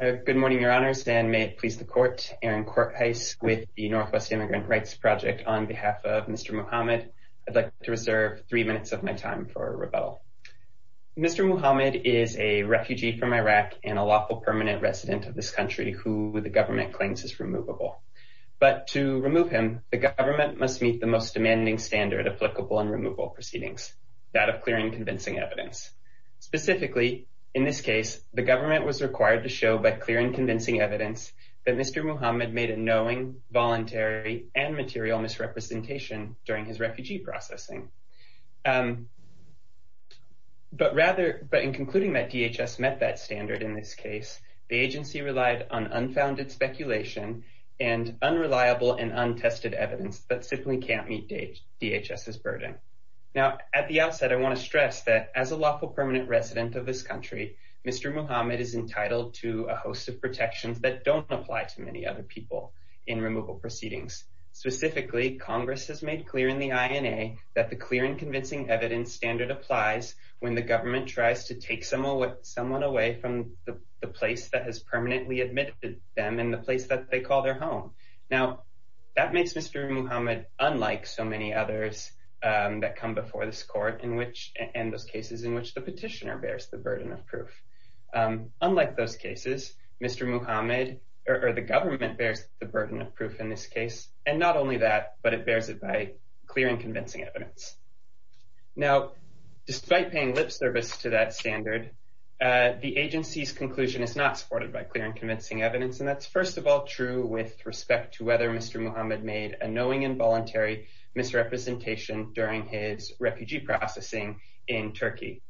Good morning, Your Honors, and may it please the Court, Aaron Corthuis with the Northwest Immigrant Rights Project on behalf of Mr. Muhamad. I'd like to reserve three minutes of my time for rebuttal. Mr. Muhamad is a refugee from Iraq and a lawful permanent resident of this country who the government claims is removable. But to remove him, the government must meet the most demanding standard applicable in removal proceedings, that of clearing convincing evidence. Specifically, in this case, the government was required to show by clear and convincing evidence that Mr. Muhamad made a knowing, voluntary, and material misrepresentation during his refugee processing. But rather, but in concluding that DHS met that standard in this case, the agency relied on unfounded speculation and unreliable and untested evidence that simply can't meet DHS's burden. Now, at the outset, I want to stress that as a lawful permanent resident of this country, Mr. Muhamad is entitled to a host of protections that don't apply to many other people in removal proceedings. Specifically, Congress has made clear in the INA that the clear and convincing evidence standard applies when the government tries to take someone away from the place that has permanently admitted them in the place that they call their home. Now, that makes Mr. Muhamad unlike so many others that come before this court and those cases in which the petitioner bears the burden of proof. Unlike those cases, Mr. Muhamad, or the government, bears the burden of proof in this case. And not only that, but it bears it by clear and convincing evidence. Now, despite paying lip service to that standard, the agency's conclusion is not supported by clear and convincing evidence. And that's first of all true with respect to whether Mr. Muhamad made a knowing involuntary misrepresentation during his refugee processing in Turkey.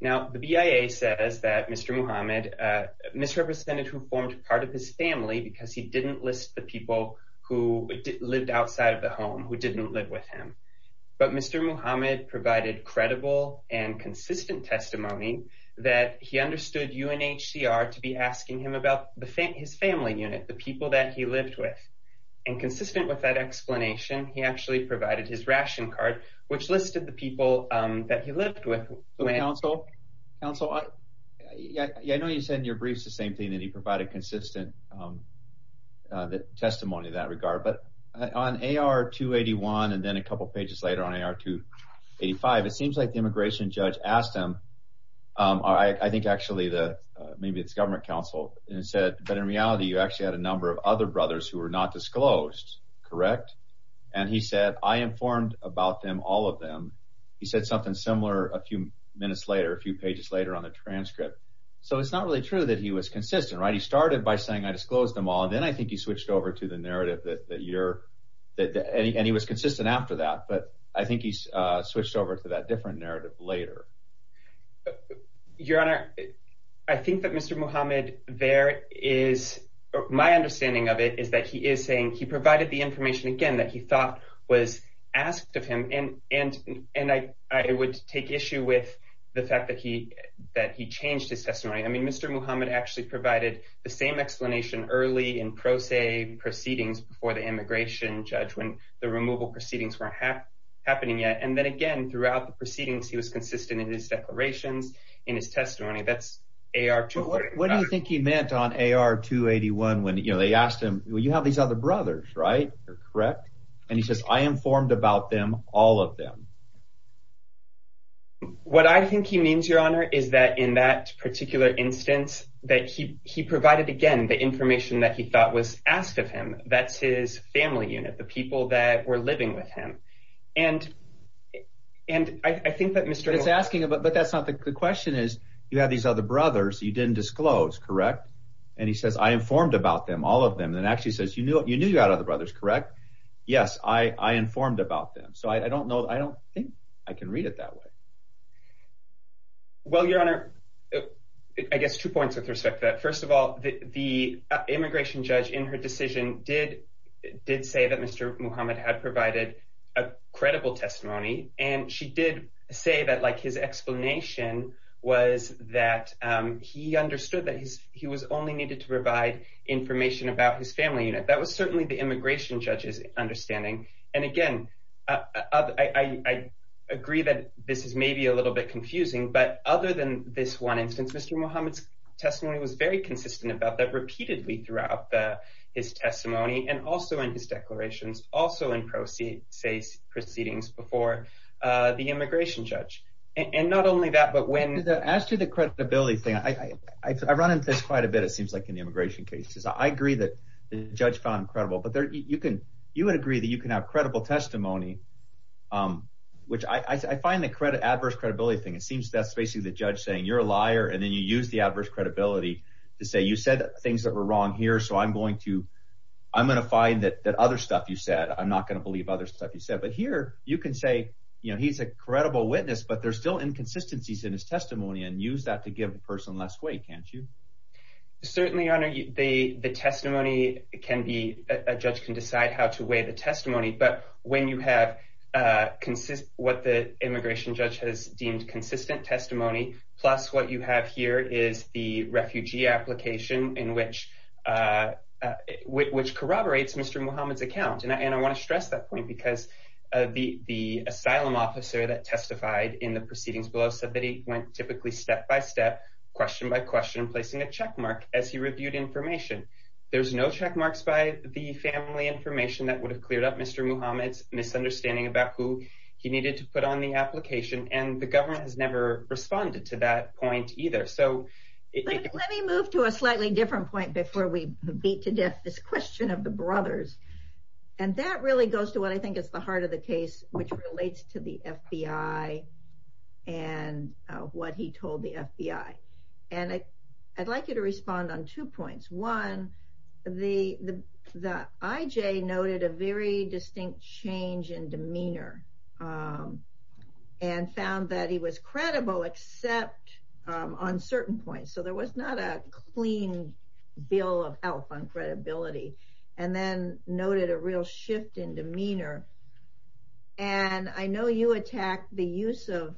Now, the BIA says that Mr. Muhamad misrepresented who formed part of his family because he didn't list the people who lived outside of the home, who didn't live with him. But Mr. Muhamad provided credible and consistent unit, the people that he lived with. And consistent with that explanation, he actually provided his ration card, which listed the people that he lived with, when counsel counsel, I know you said in your briefs, the same thing that he provided consistent testimony in that regard. But on AR 281, and then a couple pages later on AR 285, it seems like the immigration judge asked him, I think actually the maybe it's government counsel and said, but in reality, you actually had a number of other brothers who were not disclosed. Correct. And he said, I informed about them, all of them. He said something similar a few minutes later, a few pages later on the transcript. So it's not really true that he was consistent, right? He started by saying, I disclosed them all. And then I think he switched over to the narrative that you're that any, and he was your honor. I think that Mr. Muhammad there is my understanding of it is that he is saying he provided the information again, that he thought was asked of him. And, and, and I, I would take issue with the fact that he, that he changed his testimony. I mean, Mr. Muhammad actually provided the same explanation early in pro se proceedings before the immigration judge when the removal proceedings weren't happening yet. And then again, throughout the proceedings, he was consistent in his declarations, in his testimony, that's a, our, what do you think he meant on AR two 81? When, you know, they asked him, well, you have these other brothers, right? Correct. And he says, I informed about them, all of them. What I think he means, your honor, is that in that particular instance, that he, he provided again, the information that he thought was asked of him, that's his family unit, the people that were but that's not the question is you have these other brothers, you didn't disclose, correct? And he says, I informed about them, all of them, then actually says, you knew, you knew you had other brothers, correct? Yes, I informed about them. So I don't know, I don't think I can read it that way. Well, your honor, I guess two points with respect to that. First of all, the immigration judge in her decision did, did say that Mr. Muhammad had provided a credible testimony. And she did say that like his explanation was that he understood that his he was only needed to provide information about his family unit. That was certainly the immigration judges understanding. And again, I agree that this is maybe a little bit confusing. But other than this one instance, Mr. Muhammad's testimony was very consistent about that repeatedly throughout the his testimony and also in his declarations also in say, say proceedings before the immigration judge. And not only that, but when that as to the credibility thing, I run into this quite a bit, it seems like in the immigration cases, I agree that the judge found credible, but there you can, you would agree that you can have credible testimony. Which I find the credit adverse credibility thing, it seems that's basically the judge saying you're a liar. And then you use the adverse credibility to say you said things that were wrong here. So I'm going to, I'm going to find that that other stuff you said, I'm not going to believe other stuff you said. But here, you can say, you know, he's a credible witness, but there's still inconsistencies in his testimony and use that to give the person less weight, can't you? Certainly honor you the the testimony can be a judge can decide how to weigh the testimony. But when you have consistent what the immigration judge has deemed consistent testimony, plus what you have here is the which corroborates Mr. Muhammad's account. And I want to stress that point, because the the asylum officer that testified in the proceedings below said that he went typically step by step, question by question, placing a checkmark as he reviewed information. There's no checkmarks by the family information that would have cleared up Mr. Muhammad's misunderstanding about who he needed to put on the application. And the government has never responded to that point either. So let me move to a slightly different point before we beat to death this question of the brothers. And that really goes to what I think is the heart of the case, which relates to the FBI, and what he told the FBI. And I'd like you to respond on two points. One, the the the IJ noted a very distinct change in demeanor and found that he was credible, except on certain points. So there was not a clean bill of health on credibility, and then noted a real shift in demeanor. And I know you attack the use of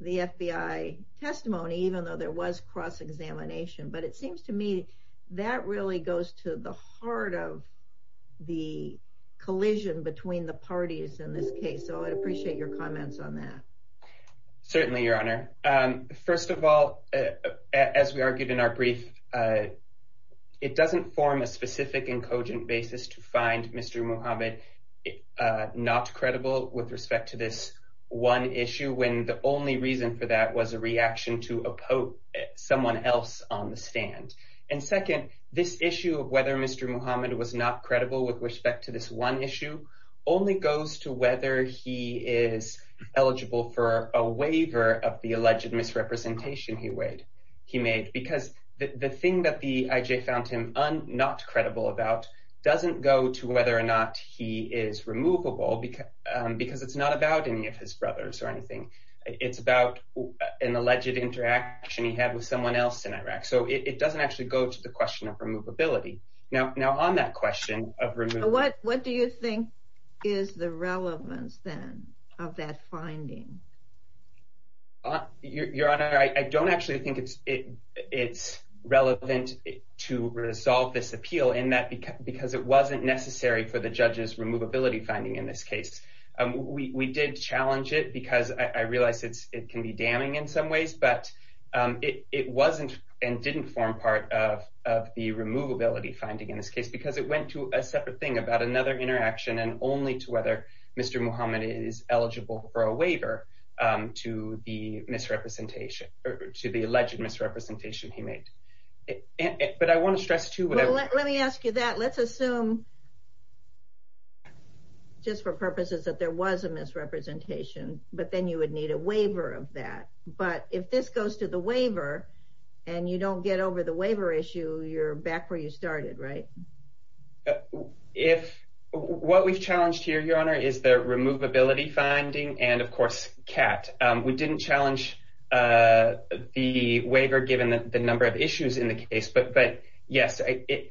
the FBI testimony, even though there was cross examination, but it seems to me that really goes to the heart of the collision between the parties in this case. So I appreciate your comments on that. Certainly, Your Honor. First of all, as we argued in our brief, it doesn't form a specific and cogent basis to find Mr. Muhammad not credible with respect to this one issue when the only reason for that was a reaction to uphold someone else on the stand. And second, this issue of whether Mr. Muhammad was not credible with respect to this one issue only goes to whether he is eligible for a waiver of the alleged misrepresentation he made, because the thing that the IJ found him not credible about doesn't go to whether or not he is removable, because it's not about any of his brothers or anything. It's about an alleged interaction he had with someone else in Iraq. So it doesn't actually go to the question of removability. Now, on that question of removal... What do you think is the relevance then of that finding? Your Honor, I don't actually think it's relevant to resolve this appeal in that because it wasn't necessary for the judge's removability finding in this case. We did challenge it because I realize it can be damning in some ways, but it wasn't and didn't form part of the removability finding in this case, because it went to a separate thing about another interaction and only to whether Mr. Muhammad is eligible for a waiver to the alleged misrepresentation he made. But I want to stress, too, what I... Well, let me ask you that. Let's assume, just for purposes, that there was a misrepresentation, but then you would need a waiver of that. But if this goes to the waiver, and you don't get over the waiver issue, you're back where you started, right? What we've challenged here, Your Honor, is the removability finding and, of course, CAT. We didn't challenge the waiver given the number of issues in the case, but yes,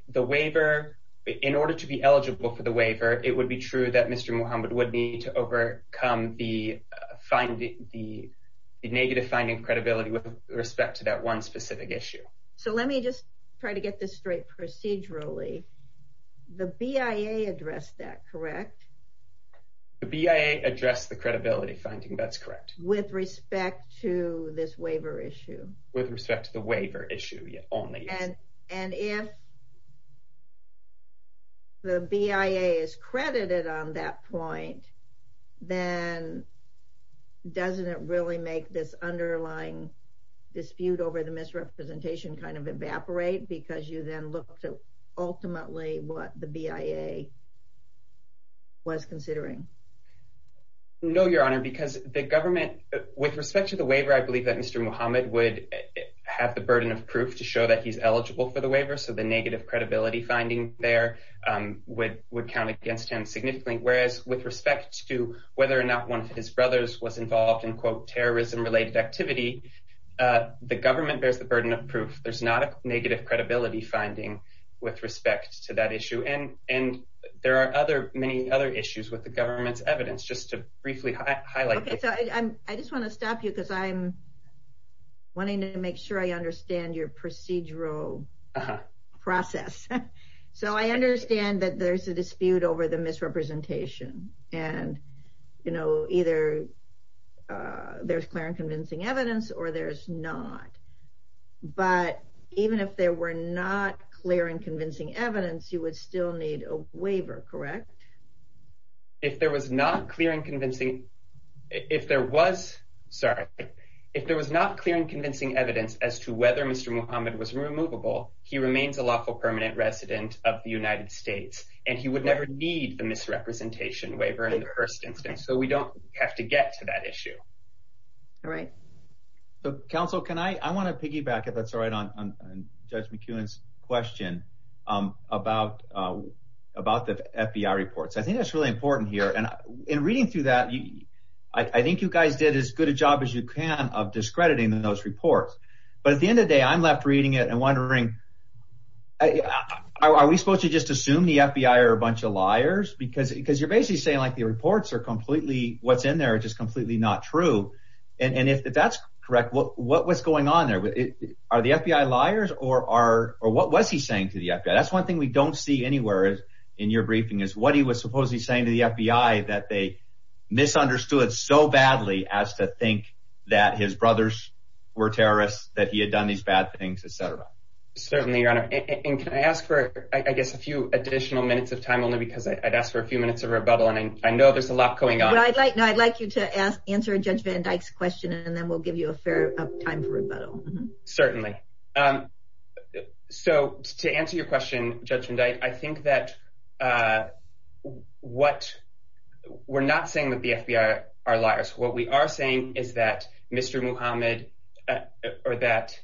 the waiver... In order to be eligible for the waiver, it would be true that Mr. Muhammad would need to overcome the negative finding credibility with respect to that one specific issue. So let me just try to get this straight procedurally. The BIA addressed that, correct? The BIA addressed the credibility finding, that's correct. With respect to this waiver issue? With respect to the waiver issue only, yes. And if the BIA is credited on that point, then doesn't it really make this underlying dispute over the misrepresentation kind of evaporate because you then look to ultimately what the BIA was considering? No, Your Honor, because the government... With respect to the waiver, I believe that Mr. Muhammad would have the burden of proof to show that he's eligible for the waiver. So the negative credibility finding there would count against him significantly. Whereas with respect to whether or not one of his brothers was involved in, quote, terrorism-related activity, the government bears the burden of proof. There's not a negative credibility finding with respect to that issue. And there are many other issues with the government's evidence. Just to briefly highlight... Okay, so I just want to stop you because I'm wanting to make sure I understand your procedural process. So I understand that there's a dispute over the misrepresentation. And either there's clear and convincing evidence or there's not. But even if there were not clear and convincing evidence, you would still need a waiver, correct? If there was not clear and convincing... If there was... Sorry. If there was not clear and convincing evidence as to whether Mr. Muhammad was removable, he remains a lawful permanent resident of the United States. And he would never need the misrepresentation waiver in the first instance. All right. Counsel, can I... I want to piggyback if that's all right on Judge McEwen's question about the FBI reports. I think that's really important here. And in reading through that, I think you guys did as good a job as you can of discrediting those reports. But at the end of the day, I'm left reading it and wondering, are we supposed to just assume the FBI are a bunch of liars? Because you're basically saying, like, the reports are completely... What's in there is just completely not true. And if that's correct, what was going on there? Are the FBI liars? Or what was he saying to the FBI? That's one thing we don't see anywhere in your briefing, is what he was supposedly saying to the FBI that they misunderstood so badly as to think that his brothers were terrorists, that he had done these bad things, et cetera. Certainly, Your Honor. And can I ask for, I guess, a few additional minutes of time, only because I'd ask for a few minutes of rebuttal. And I know there's a lot going on. I'd like you to answer Judge Van Dyke's question, and then we'll give you a fair amount of time for rebuttal. Certainly. So to answer your question, Judge Van Dyke, I think that we're not saying that the FBI are liars. What we are saying is that Mr. Muhammad, or that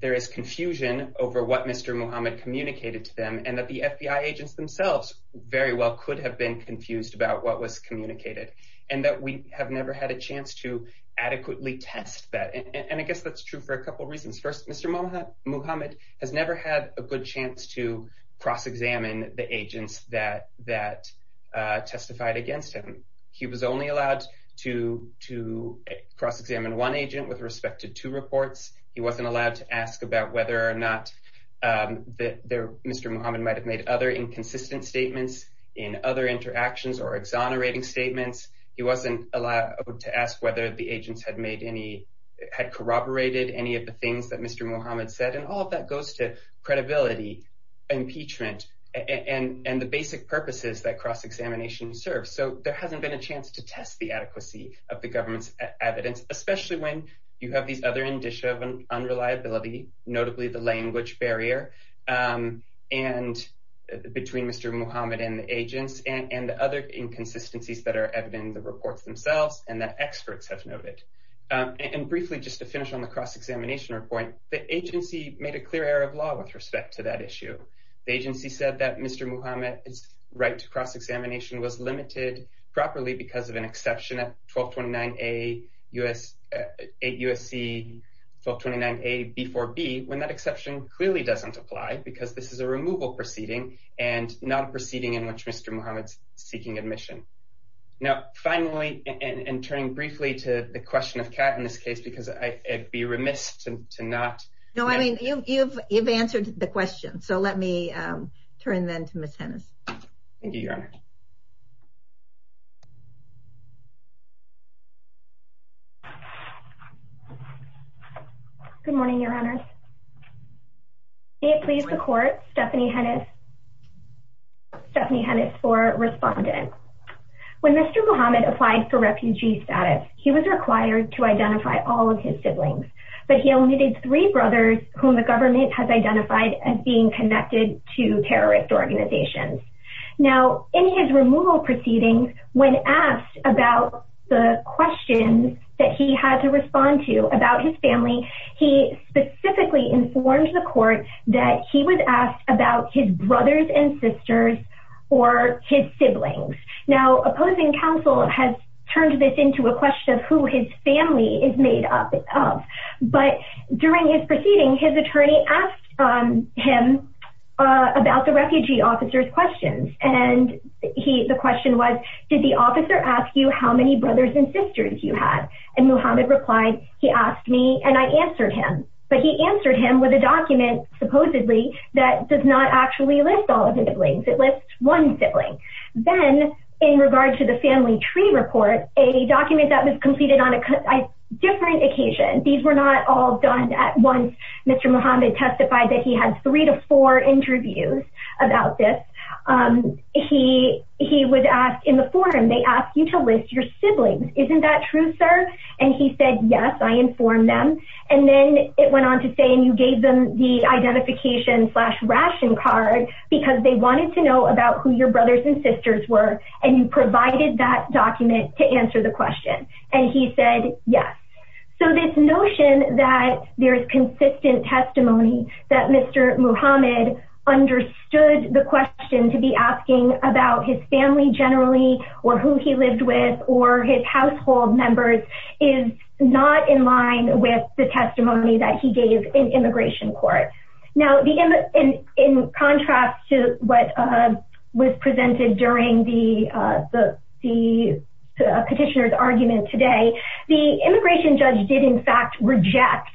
there is confusion over what Mr. Muhammad communicated to them, and that the FBI agents themselves very well could have been confused about what was communicated. And that we have never had a chance to adequately test that. And I guess that's true for a couple reasons. First, Mr. Muhammad has never had a good chance to cross-examine the agents that testified against him. He was only allowed to cross-examine one agent with respect to two reports. He wasn't allowed to ask about whether or not Mr. Muhammad might have made other inconsistent statements in other interactions or exonerating statements. He wasn't allowed to ask whether the agents had corroborated any of the things that Mr. Muhammad said. And all of that goes to credibility, impeachment, and the basic purposes that cross-examination serves. So there hasn't been a chance to test the adequacy of the government's evidence, especially when you have these other indicia of unreliability, notably the language barrier between Mr. Muhammad and the agents. And the other inconsistencies that are evident in the reports themselves and that experts have noted. And briefly, just to finish on the cross-examination report, the agency made a clear error of law with respect to that issue. The agency said that Mr. Muhammad's right to cross-examination was limited properly because of an exception at 1229A-8USC-1229A-B4B, when that exception clearly doesn't apply because this is a removal proceeding and not a proceeding in which Mr. Muhammad's seeking admission. Now, finally, and turning briefly to the question of Kat in this case, because I'd be remiss to not... No, I mean, you've answered the question, so let me turn then to Ms. Hennes. Thank you, Your Honor. Good morning, Your Honor. May it please the Court, Stephanie Hennes for Respondent. When Mr. Muhammad applied for refugee status, he was required to identify all of his siblings, but he only did three brothers whom the government has identified as being connected to terrorist organizations. Now, in his removal proceedings, when asked about the questions that he had to respond to about his family, he specifically informed the Court that he was asked about his brothers and sisters or his siblings. Now, opposing counsel has turned this into a question of who his family is made up of, but during his proceeding, his attorney asked him about the refugee officer's questions. And the question was, did the officer ask you how many brothers and sisters you had? And Muhammad replied, he asked me and I answered him. But he answered him with a document, supposedly, that does not actually list all of the siblings. It lists one sibling. Then, in regard to the family tree report, a document that was completed on a different occasion. These were not all done at once. Mr. Muhammad testified that he had three to four interviews about this. He was asked in the forum, they asked you to list your siblings. Isn't that true, sir? And he said, yes, I informed them. And then it went on to say, and you gave them the identification slash ration card because they wanted to know about who your brothers and sisters were. And you provided that document to answer the question. And he said, yes. So this notion that there's consistent testimony that Mr. Muhammad understood the question to be asking about his family generally, or who he lived with, or his household members, is not in line with the testimony that he gave in immigration court. Now, in contrast to what was presented during the petitioner's argument today, the immigration judge did, in fact, reject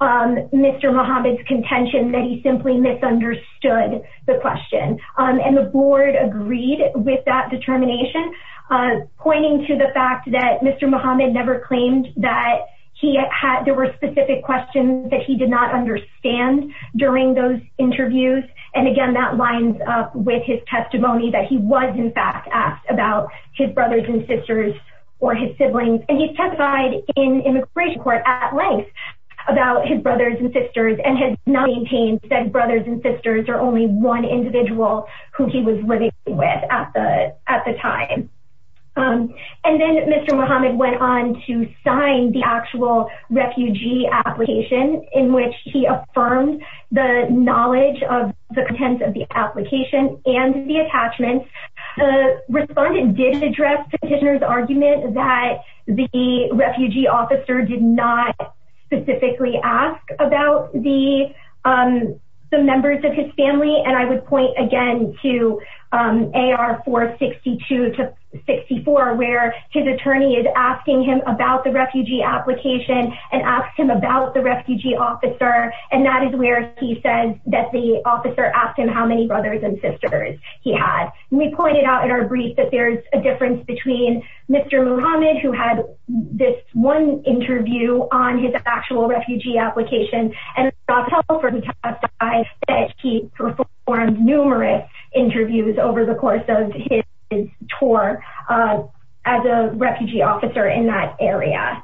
Mr. Muhammad's contention that he simply misunderstood the question. And the board agreed with that determination, pointing to the fact that Mr. Muhammad never claimed that there were specific questions that he did not understand during those interviews. And again, that lines up with his testimony that he was, in fact, asked about his brothers and sisters or his siblings. And he testified in immigration court at length about his brothers and sisters and had not maintained that brothers and sisters are only one individual who he was living with at the time. And then Mr. Muhammad went on to sign the actual refugee application in which he affirmed the knowledge of the contents of the application and the attachments. The respondent did address the petitioner's argument that the refugee officer did not specifically ask about the members of his family. And I would point again to AR 462 to 64, where his attorney is asking him about the refugee application and asked him about the refugee officer. And that is where he says that the officer asked him how many brothers and sisters he had. And we pointed out in our brief that there's a difference between Mr. Muhammad, who had this one interview on his actual refugee application, and Dr. Helfer, who testified that he performed numerous interviews over the course of his tour as a refugee officer in that area.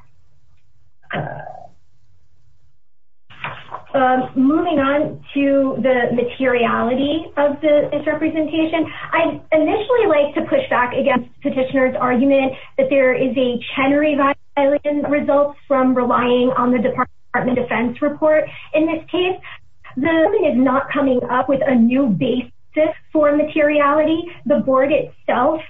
Moving on to the materiality of the misrepresentation, I'd initially like to push back against the petitioner's argument that there is a Chenery violation that results from relying on the Department of Defense report. In this case, the government is not coming up with a new basis for materiality. The board itself,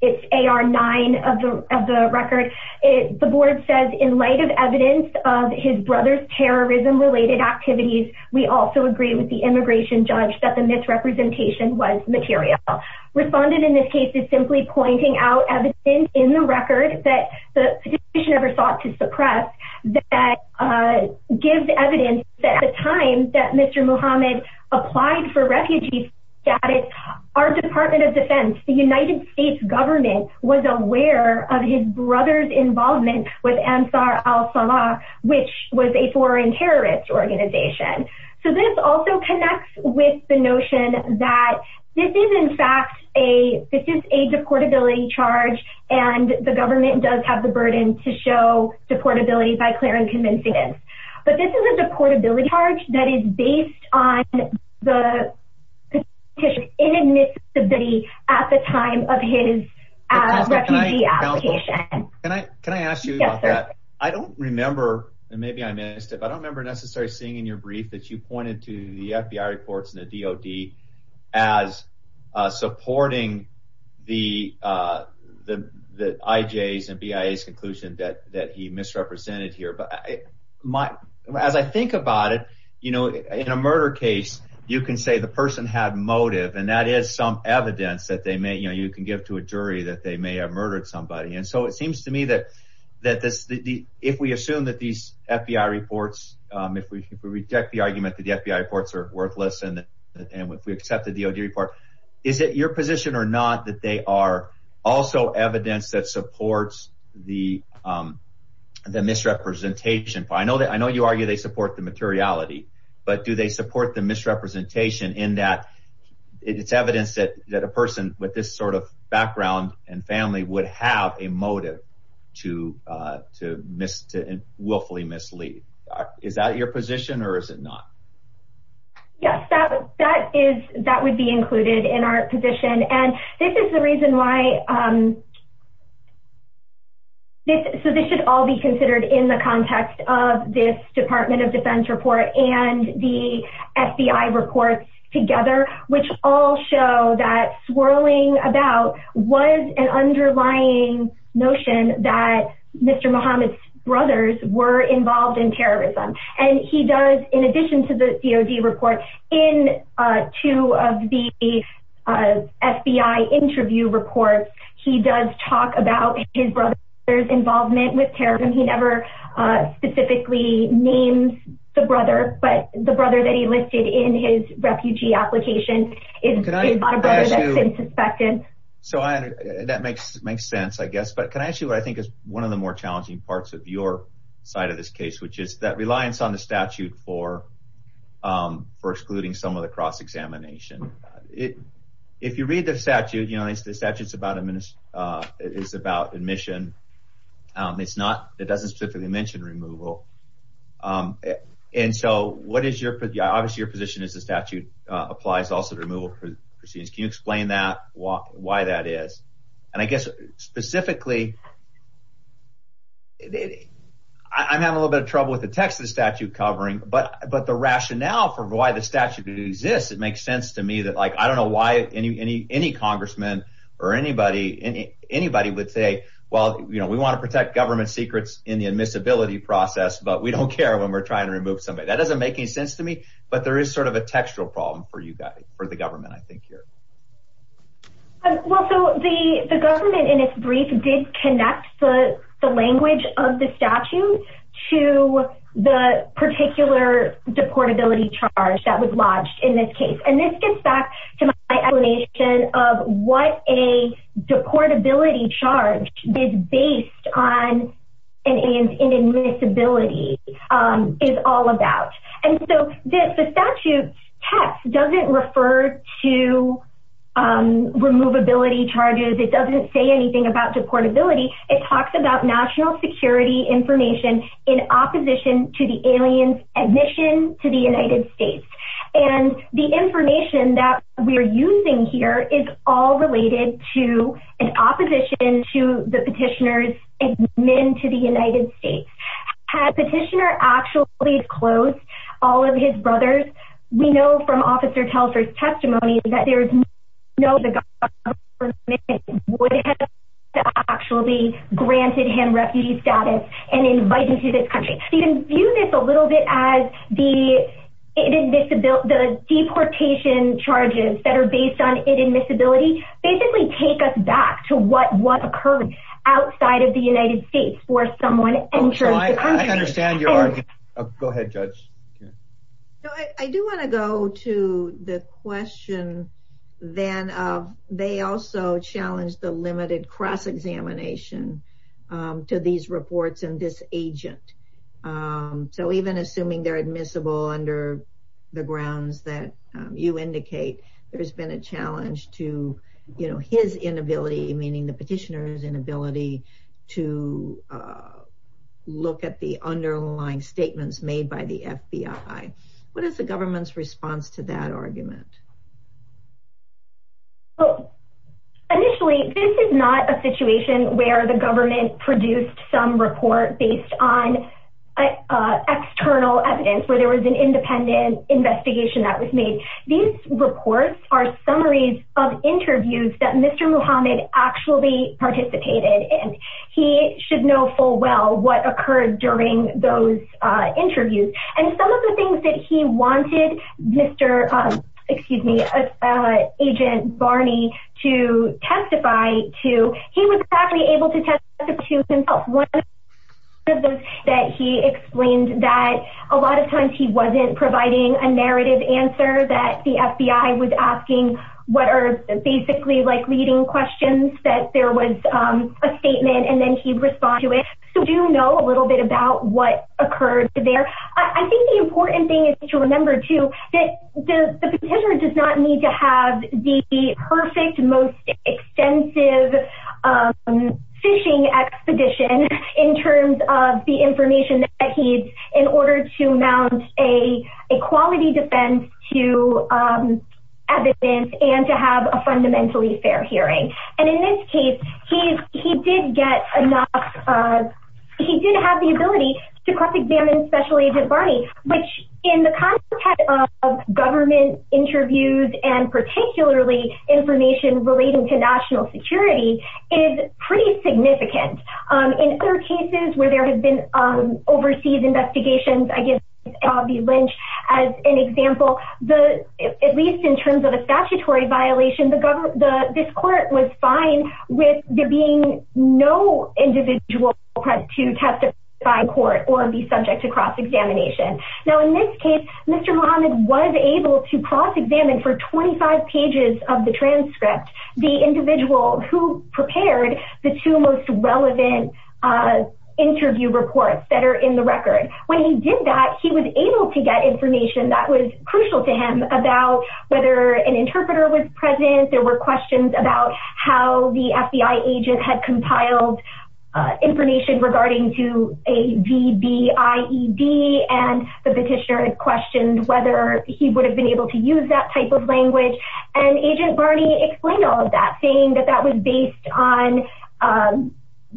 it's AR 9 of the record, the board says in light of evidence of his brother's terrorism-related activities, we also agree with the immigration judge that the misrepresentation was material. Respondent in this case is simply pointing out evidence in the record that the petitioner sought to suppress that gives evidence that at the time that Mr. Muhammad applied for refugee status, our Department of Defense, the United States government, was aware of his brother's involvement with Ansar al-Sama, which was a foreign terrorist organization. So this also connects with the notion that this is, in fact, a deportability charge, and the government does have the burden to show deportability by clear and convincing evidence. But this is a deportability charge that is based on the petitioner's inadmissibility at the time of his refugee application. Can I ask you about that? I don't remember, and maybe I missed it, but I don't remember necessarily seeing in your brief that you pointed to the FBI reports and the DOD as supporting the IJs and BIAs conclusion that he misrepresented here. But as I think about it, in a murder case, you can say the person had motive, and that is some evidence that you can give to a jury that they may have murdered somebody. And so it seems to me that if we assume that these FBI reports, if we reject the argument that the FBI reports are worthless, and if we accept the DOD report, is it your position or not that they are also evidence that supports the misrepresentation? I know you argue they support the materiality, but do they support the misrepresentation in that it's evidence that a person with this sort of background and family would have a motive to willfully mislead? Is that your position or is it not? Yes, that would be included in our position. And this is the reason why this should all be considered in the context of this Department of Defense report and the FBI reports together, which all show that swirling about was an underlying notion that Mr. Muhammad's brothers were involved in terrorism. And he does, in addition to the DOD report, in two of the FBI interview reports, he does talk about his brother's involvement with terrorism. He never specifically names the brother, but the brother that he listed in his refugee application is not a brother that's been suspected. So that makes sense, I guess. But can I ask you what I think is one of the more challenging parts of your side of this case, which is that reliance on the statute for excluding some of the cross-examination. If you read the statute, the statute is about admission. It's not, it doesn't specifically mention removal. And so what is your, obviously your position is the statute applies also to removal proceedings. Can you explain that, why that is? And I guess specifically, I'm having a little bit of trouble with the text of the statute covering, but the rationale for why the statute exists, it makes sense to me that like, I don't know why any congressman or anybody would say, well, you know, we want to protect government secrets in the admissibility process, but we don't care when we're trying to remove somebody. That doesn't make any sense to me, but there is sort of a textual problem for you guys, for the government, I think here. Well, so the government in its brief did connect the language of the statute to the particular deportability charge that was lodged in this case. And this gets back to my explanation of what a deportability charge is based on and in admissibility is all about. And so the statute text doesn't refer to, um, removability charges. It doesn't say anything about deportability. It talks about national security information in opposition to the alien's admission to the United States. And the information that we're using here is all related to an opposition to the petitioner's admin to the United States. Had petitioner actually closed all of his brothers, we know from officer Telfer's testimony that there is no way the government would have actually granted him refugee status and invited him to this country. So you can view this a little bit as the deportation charges that are based on admissibility basically take us back to what was occurring outside of the United States for someone entering the country. I understand your argument. Go ahead, Judge. I do want to go to the question then of they also challenged the limited cross-examination to these reports and this agent. So even assuming they're admissible under the grounds that you indicate, there's been a challenge to, you know, his inability, meaning the petitioner's inability to look at the underlying statements made by the FBI. What is the government's response to that argument? Initially, this is not a situation where the government produced some report based on external evidence where there was an independent investigation that was made. These reports are summaries of interviews that Mr. Muhammad actually participated in. He should know full well what occurred during those interviews. And some of the things that he wanted Agent Barney to testify to, he was actually able to testify to himself. One of those that he explained that a lot of times he wasn't providing a narrative answer that the FBI was asking what are basically like leading questions that there was a statement and then he'd respond to it. So we do know a little bit about what occurred there. I think the important thing is to remember too that the petitioner does not need to have the perfect, most extensive phishing expedition in terms of the information that he needs in order to mount a quality defense to evidence and to have a fundamentally fair hearing. And in this case, he did have the ability to cross-examine Special Agent Barney, which in the context of government interviews and particularly information relating to national security is pretty significant. In other cases where there has been overseas investigations, I give Bobby Lynch as an example, at least in terms of a statutory violation, this court was fine with there being no individual to testify in court or be subject to cross-examination. Now in this case, Mr. Muhammad was able to cross-examine for 25 pages of the transcript the individual who prepared the two most relevant interview reports that are in the record. When he did that, he was able to get information that was crucial to him about whether an interpreter was present, there were questions about how the FBI agent had compiled information regarding to a VBIED and the petitioner had questioned whether he would have been able to use that type of language. And Agent Barney explained all of that, saying that that was based on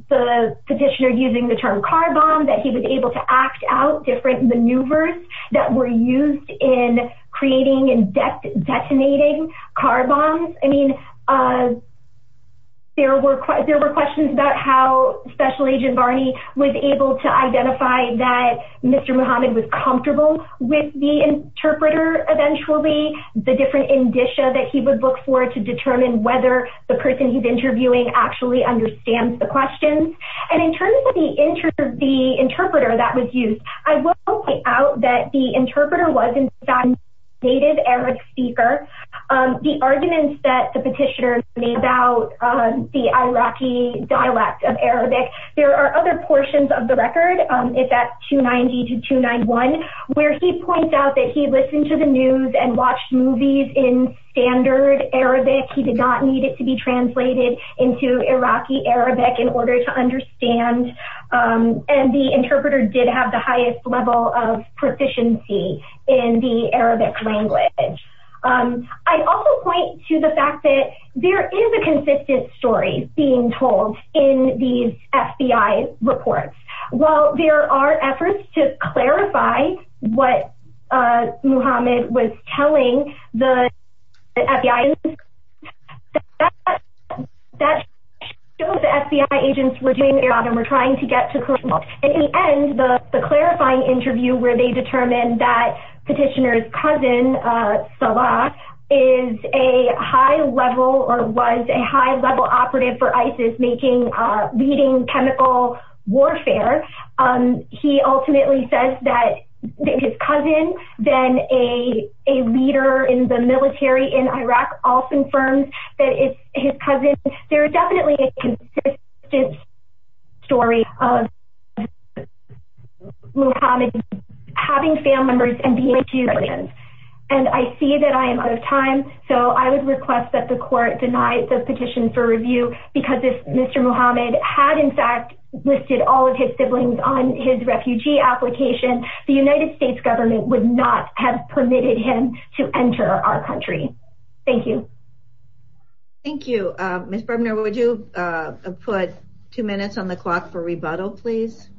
the petitioner using the term car bomb, that he was able to act out different maneuvers that were used in creating and detonating car bombs. There were questions about how Special Agent Barney was able to identify that Mr. Muhammad was comfortable with the interpreter eventually, the different indicia that he would look for to determine whether the person he's interviewing actually understands the questions. And in terms of the interpreter that was used, I will point out that the interpreter was a native Arabic speaker. The arguments that the petitioner made about the Iraqi dialect of Arabic, there are other portions of the record, if that's 290 to 291, where he points out that he listened to the news and watched movies in standard Arabic. He did not need it to be translated into Iraqi Arabic in order to understand. And the interpreter did have the highest level of proficiency in the Arabic language. I also point to the fact that there is a consistent story being told in these FBI reports. While there are efforts to clarify what Muhammad was telling the FBI agents, that shows the FBI agents were doing their job and were trying to get to the correct result. In the end, the clarifying interview where they determined that petitioner's cousin, Salah, is a high level or was a high level operative for ISIS, leading chemical warfare, he ultimately says that his cousin, then a leader in the military in Iraq, also confirms that it's his cousin. There is definitely a consistent story of Muhammad having family members and being a refugee. And I see that I am out of time, so I would request that the court deny the petition for review, because if Mr. Muhammad had in fact listed all of his siblings on his refugee application, the United States government would not have permitted him to enter our country. Thank you. Thank you. Mr. Berbner, would you put two minutes on the clock for rebuttal, please?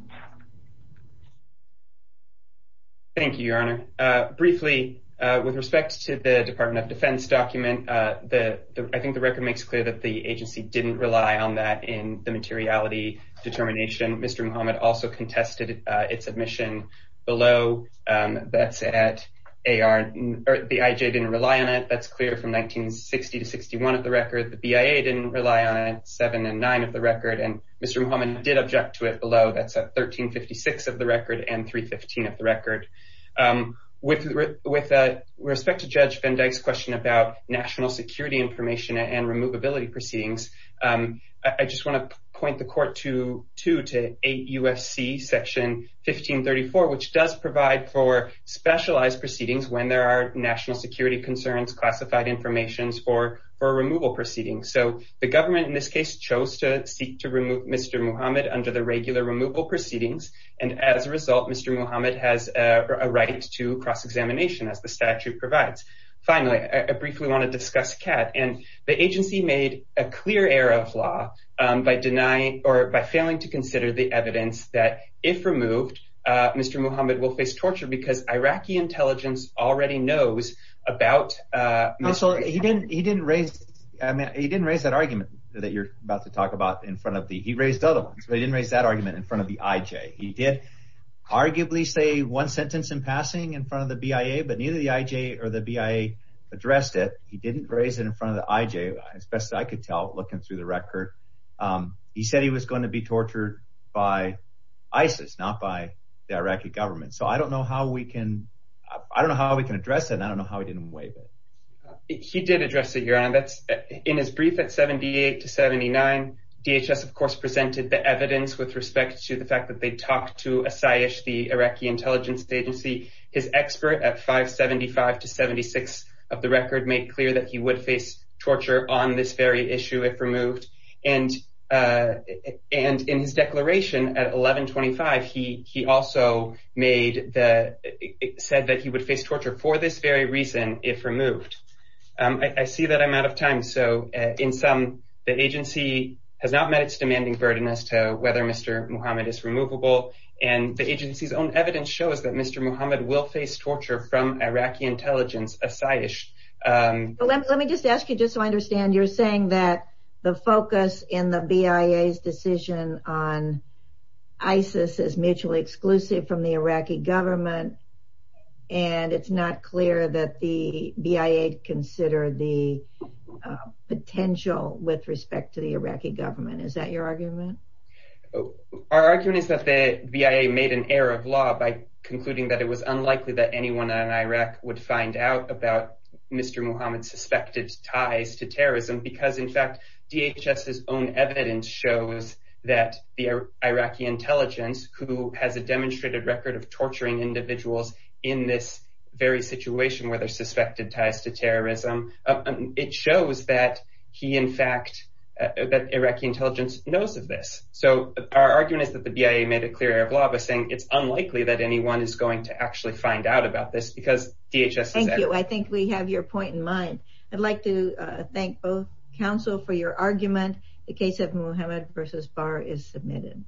Thank you, Your Honor. Briefly, with respect to the Department of Defense document, I think the record makes clear that the agency didn't rely on that in the materiality determination. Mr. Muhammad also contested its admission below. That's at AR, or the IJ didn't rely on it. That's clear from 1960 to 61 of the record. The BIA didn't rely on it, 7 and 9 of the record. And Mr. Muhammad did object to it below. That's at 7 and 9 of the record. That's at 1356 of the record and 315 of the record. With respect to Judge Van Dyke's question about national security information and removability proceedings, I just want to point the court to 8 U.S.C. Section 1534, which does provide for specialized proceedings when there are national security concerns, classified information, or for removal proceedings. So the government, in this case, chose to seek to remove Mr. Muhammad under the regular removal proceedings. And as a result, Mr. Muhammad has a right to cross-examination, as the statute provides. Finally, I briefly want to discuss CAAT. And the agency made a clear error of law by denying or by failing to consider the evidence that if removed, Mr. Muhammad will face torture because Iraqi intelligence already knows about Mr. Muhammad. He didn't raise that argument that you're about to talk about in front of the – he raised other ones, but he didn't raise that argument in front of the IJ. He did arguably say one sentence in passing in front of the BIA, but neither the IJ or the BIA addressed it. He didn't raise it in front of the IJ, as best as I could tell looking through the record. He said he was going to be tortured by ISIS, not by the Iraqi government. So I don't know how we can – I don't know how we can address it, and I don't know how he didn't waive it. He did address it, Your Honor. That's – in his brief at 78 to 79, DHS, of course, presented the evidence with respect to the fact that they talked to Asayesh, the Iraqi intelligence agency. His expert at 575 to 76 of the record made clear that he would face torture on this very issue if removed. And in his declaration at 1125, he also made the – said that he would face torture for this very reason if removed. I see that I'm out of time, so in sum, the agency has not met its demanding burden as to whether Mr. Muhammad is removable, and the agency's own evidence shows that Mr. Muhammad will face torture from Iraqi intelligence, Asayesh. Let me just ask you, just so I understand, you're saying that the focus in the BIA's decision on ISIS is mutually exclusive from the Iraqi government, and it's not clear that the BIA considered the potential with respect to the Iraqi government. Is that your argument? Our argument is that the BIA made an error of law by concluding that it was unlikely that anyone in Iraq would find out about Mr. Muhammad's suspected ties to terrorism because, in fact, DHS's own evidence shows that the Iraqi intelligence, who has a demonstrated record of torturing individuals in this very situation where there's suspected ties to terrorism, it shows that he, in fact – that Iraqi intelligence knows of this. So, our argument is that the BIA made a clear error of law by saying it's unlikely that anyone is going to actually find out about this because DHS's – Thank you. I think we have your point in mind. I'd like to thank both counsel for your argument. The case of Muhammad versus Barr is submitted.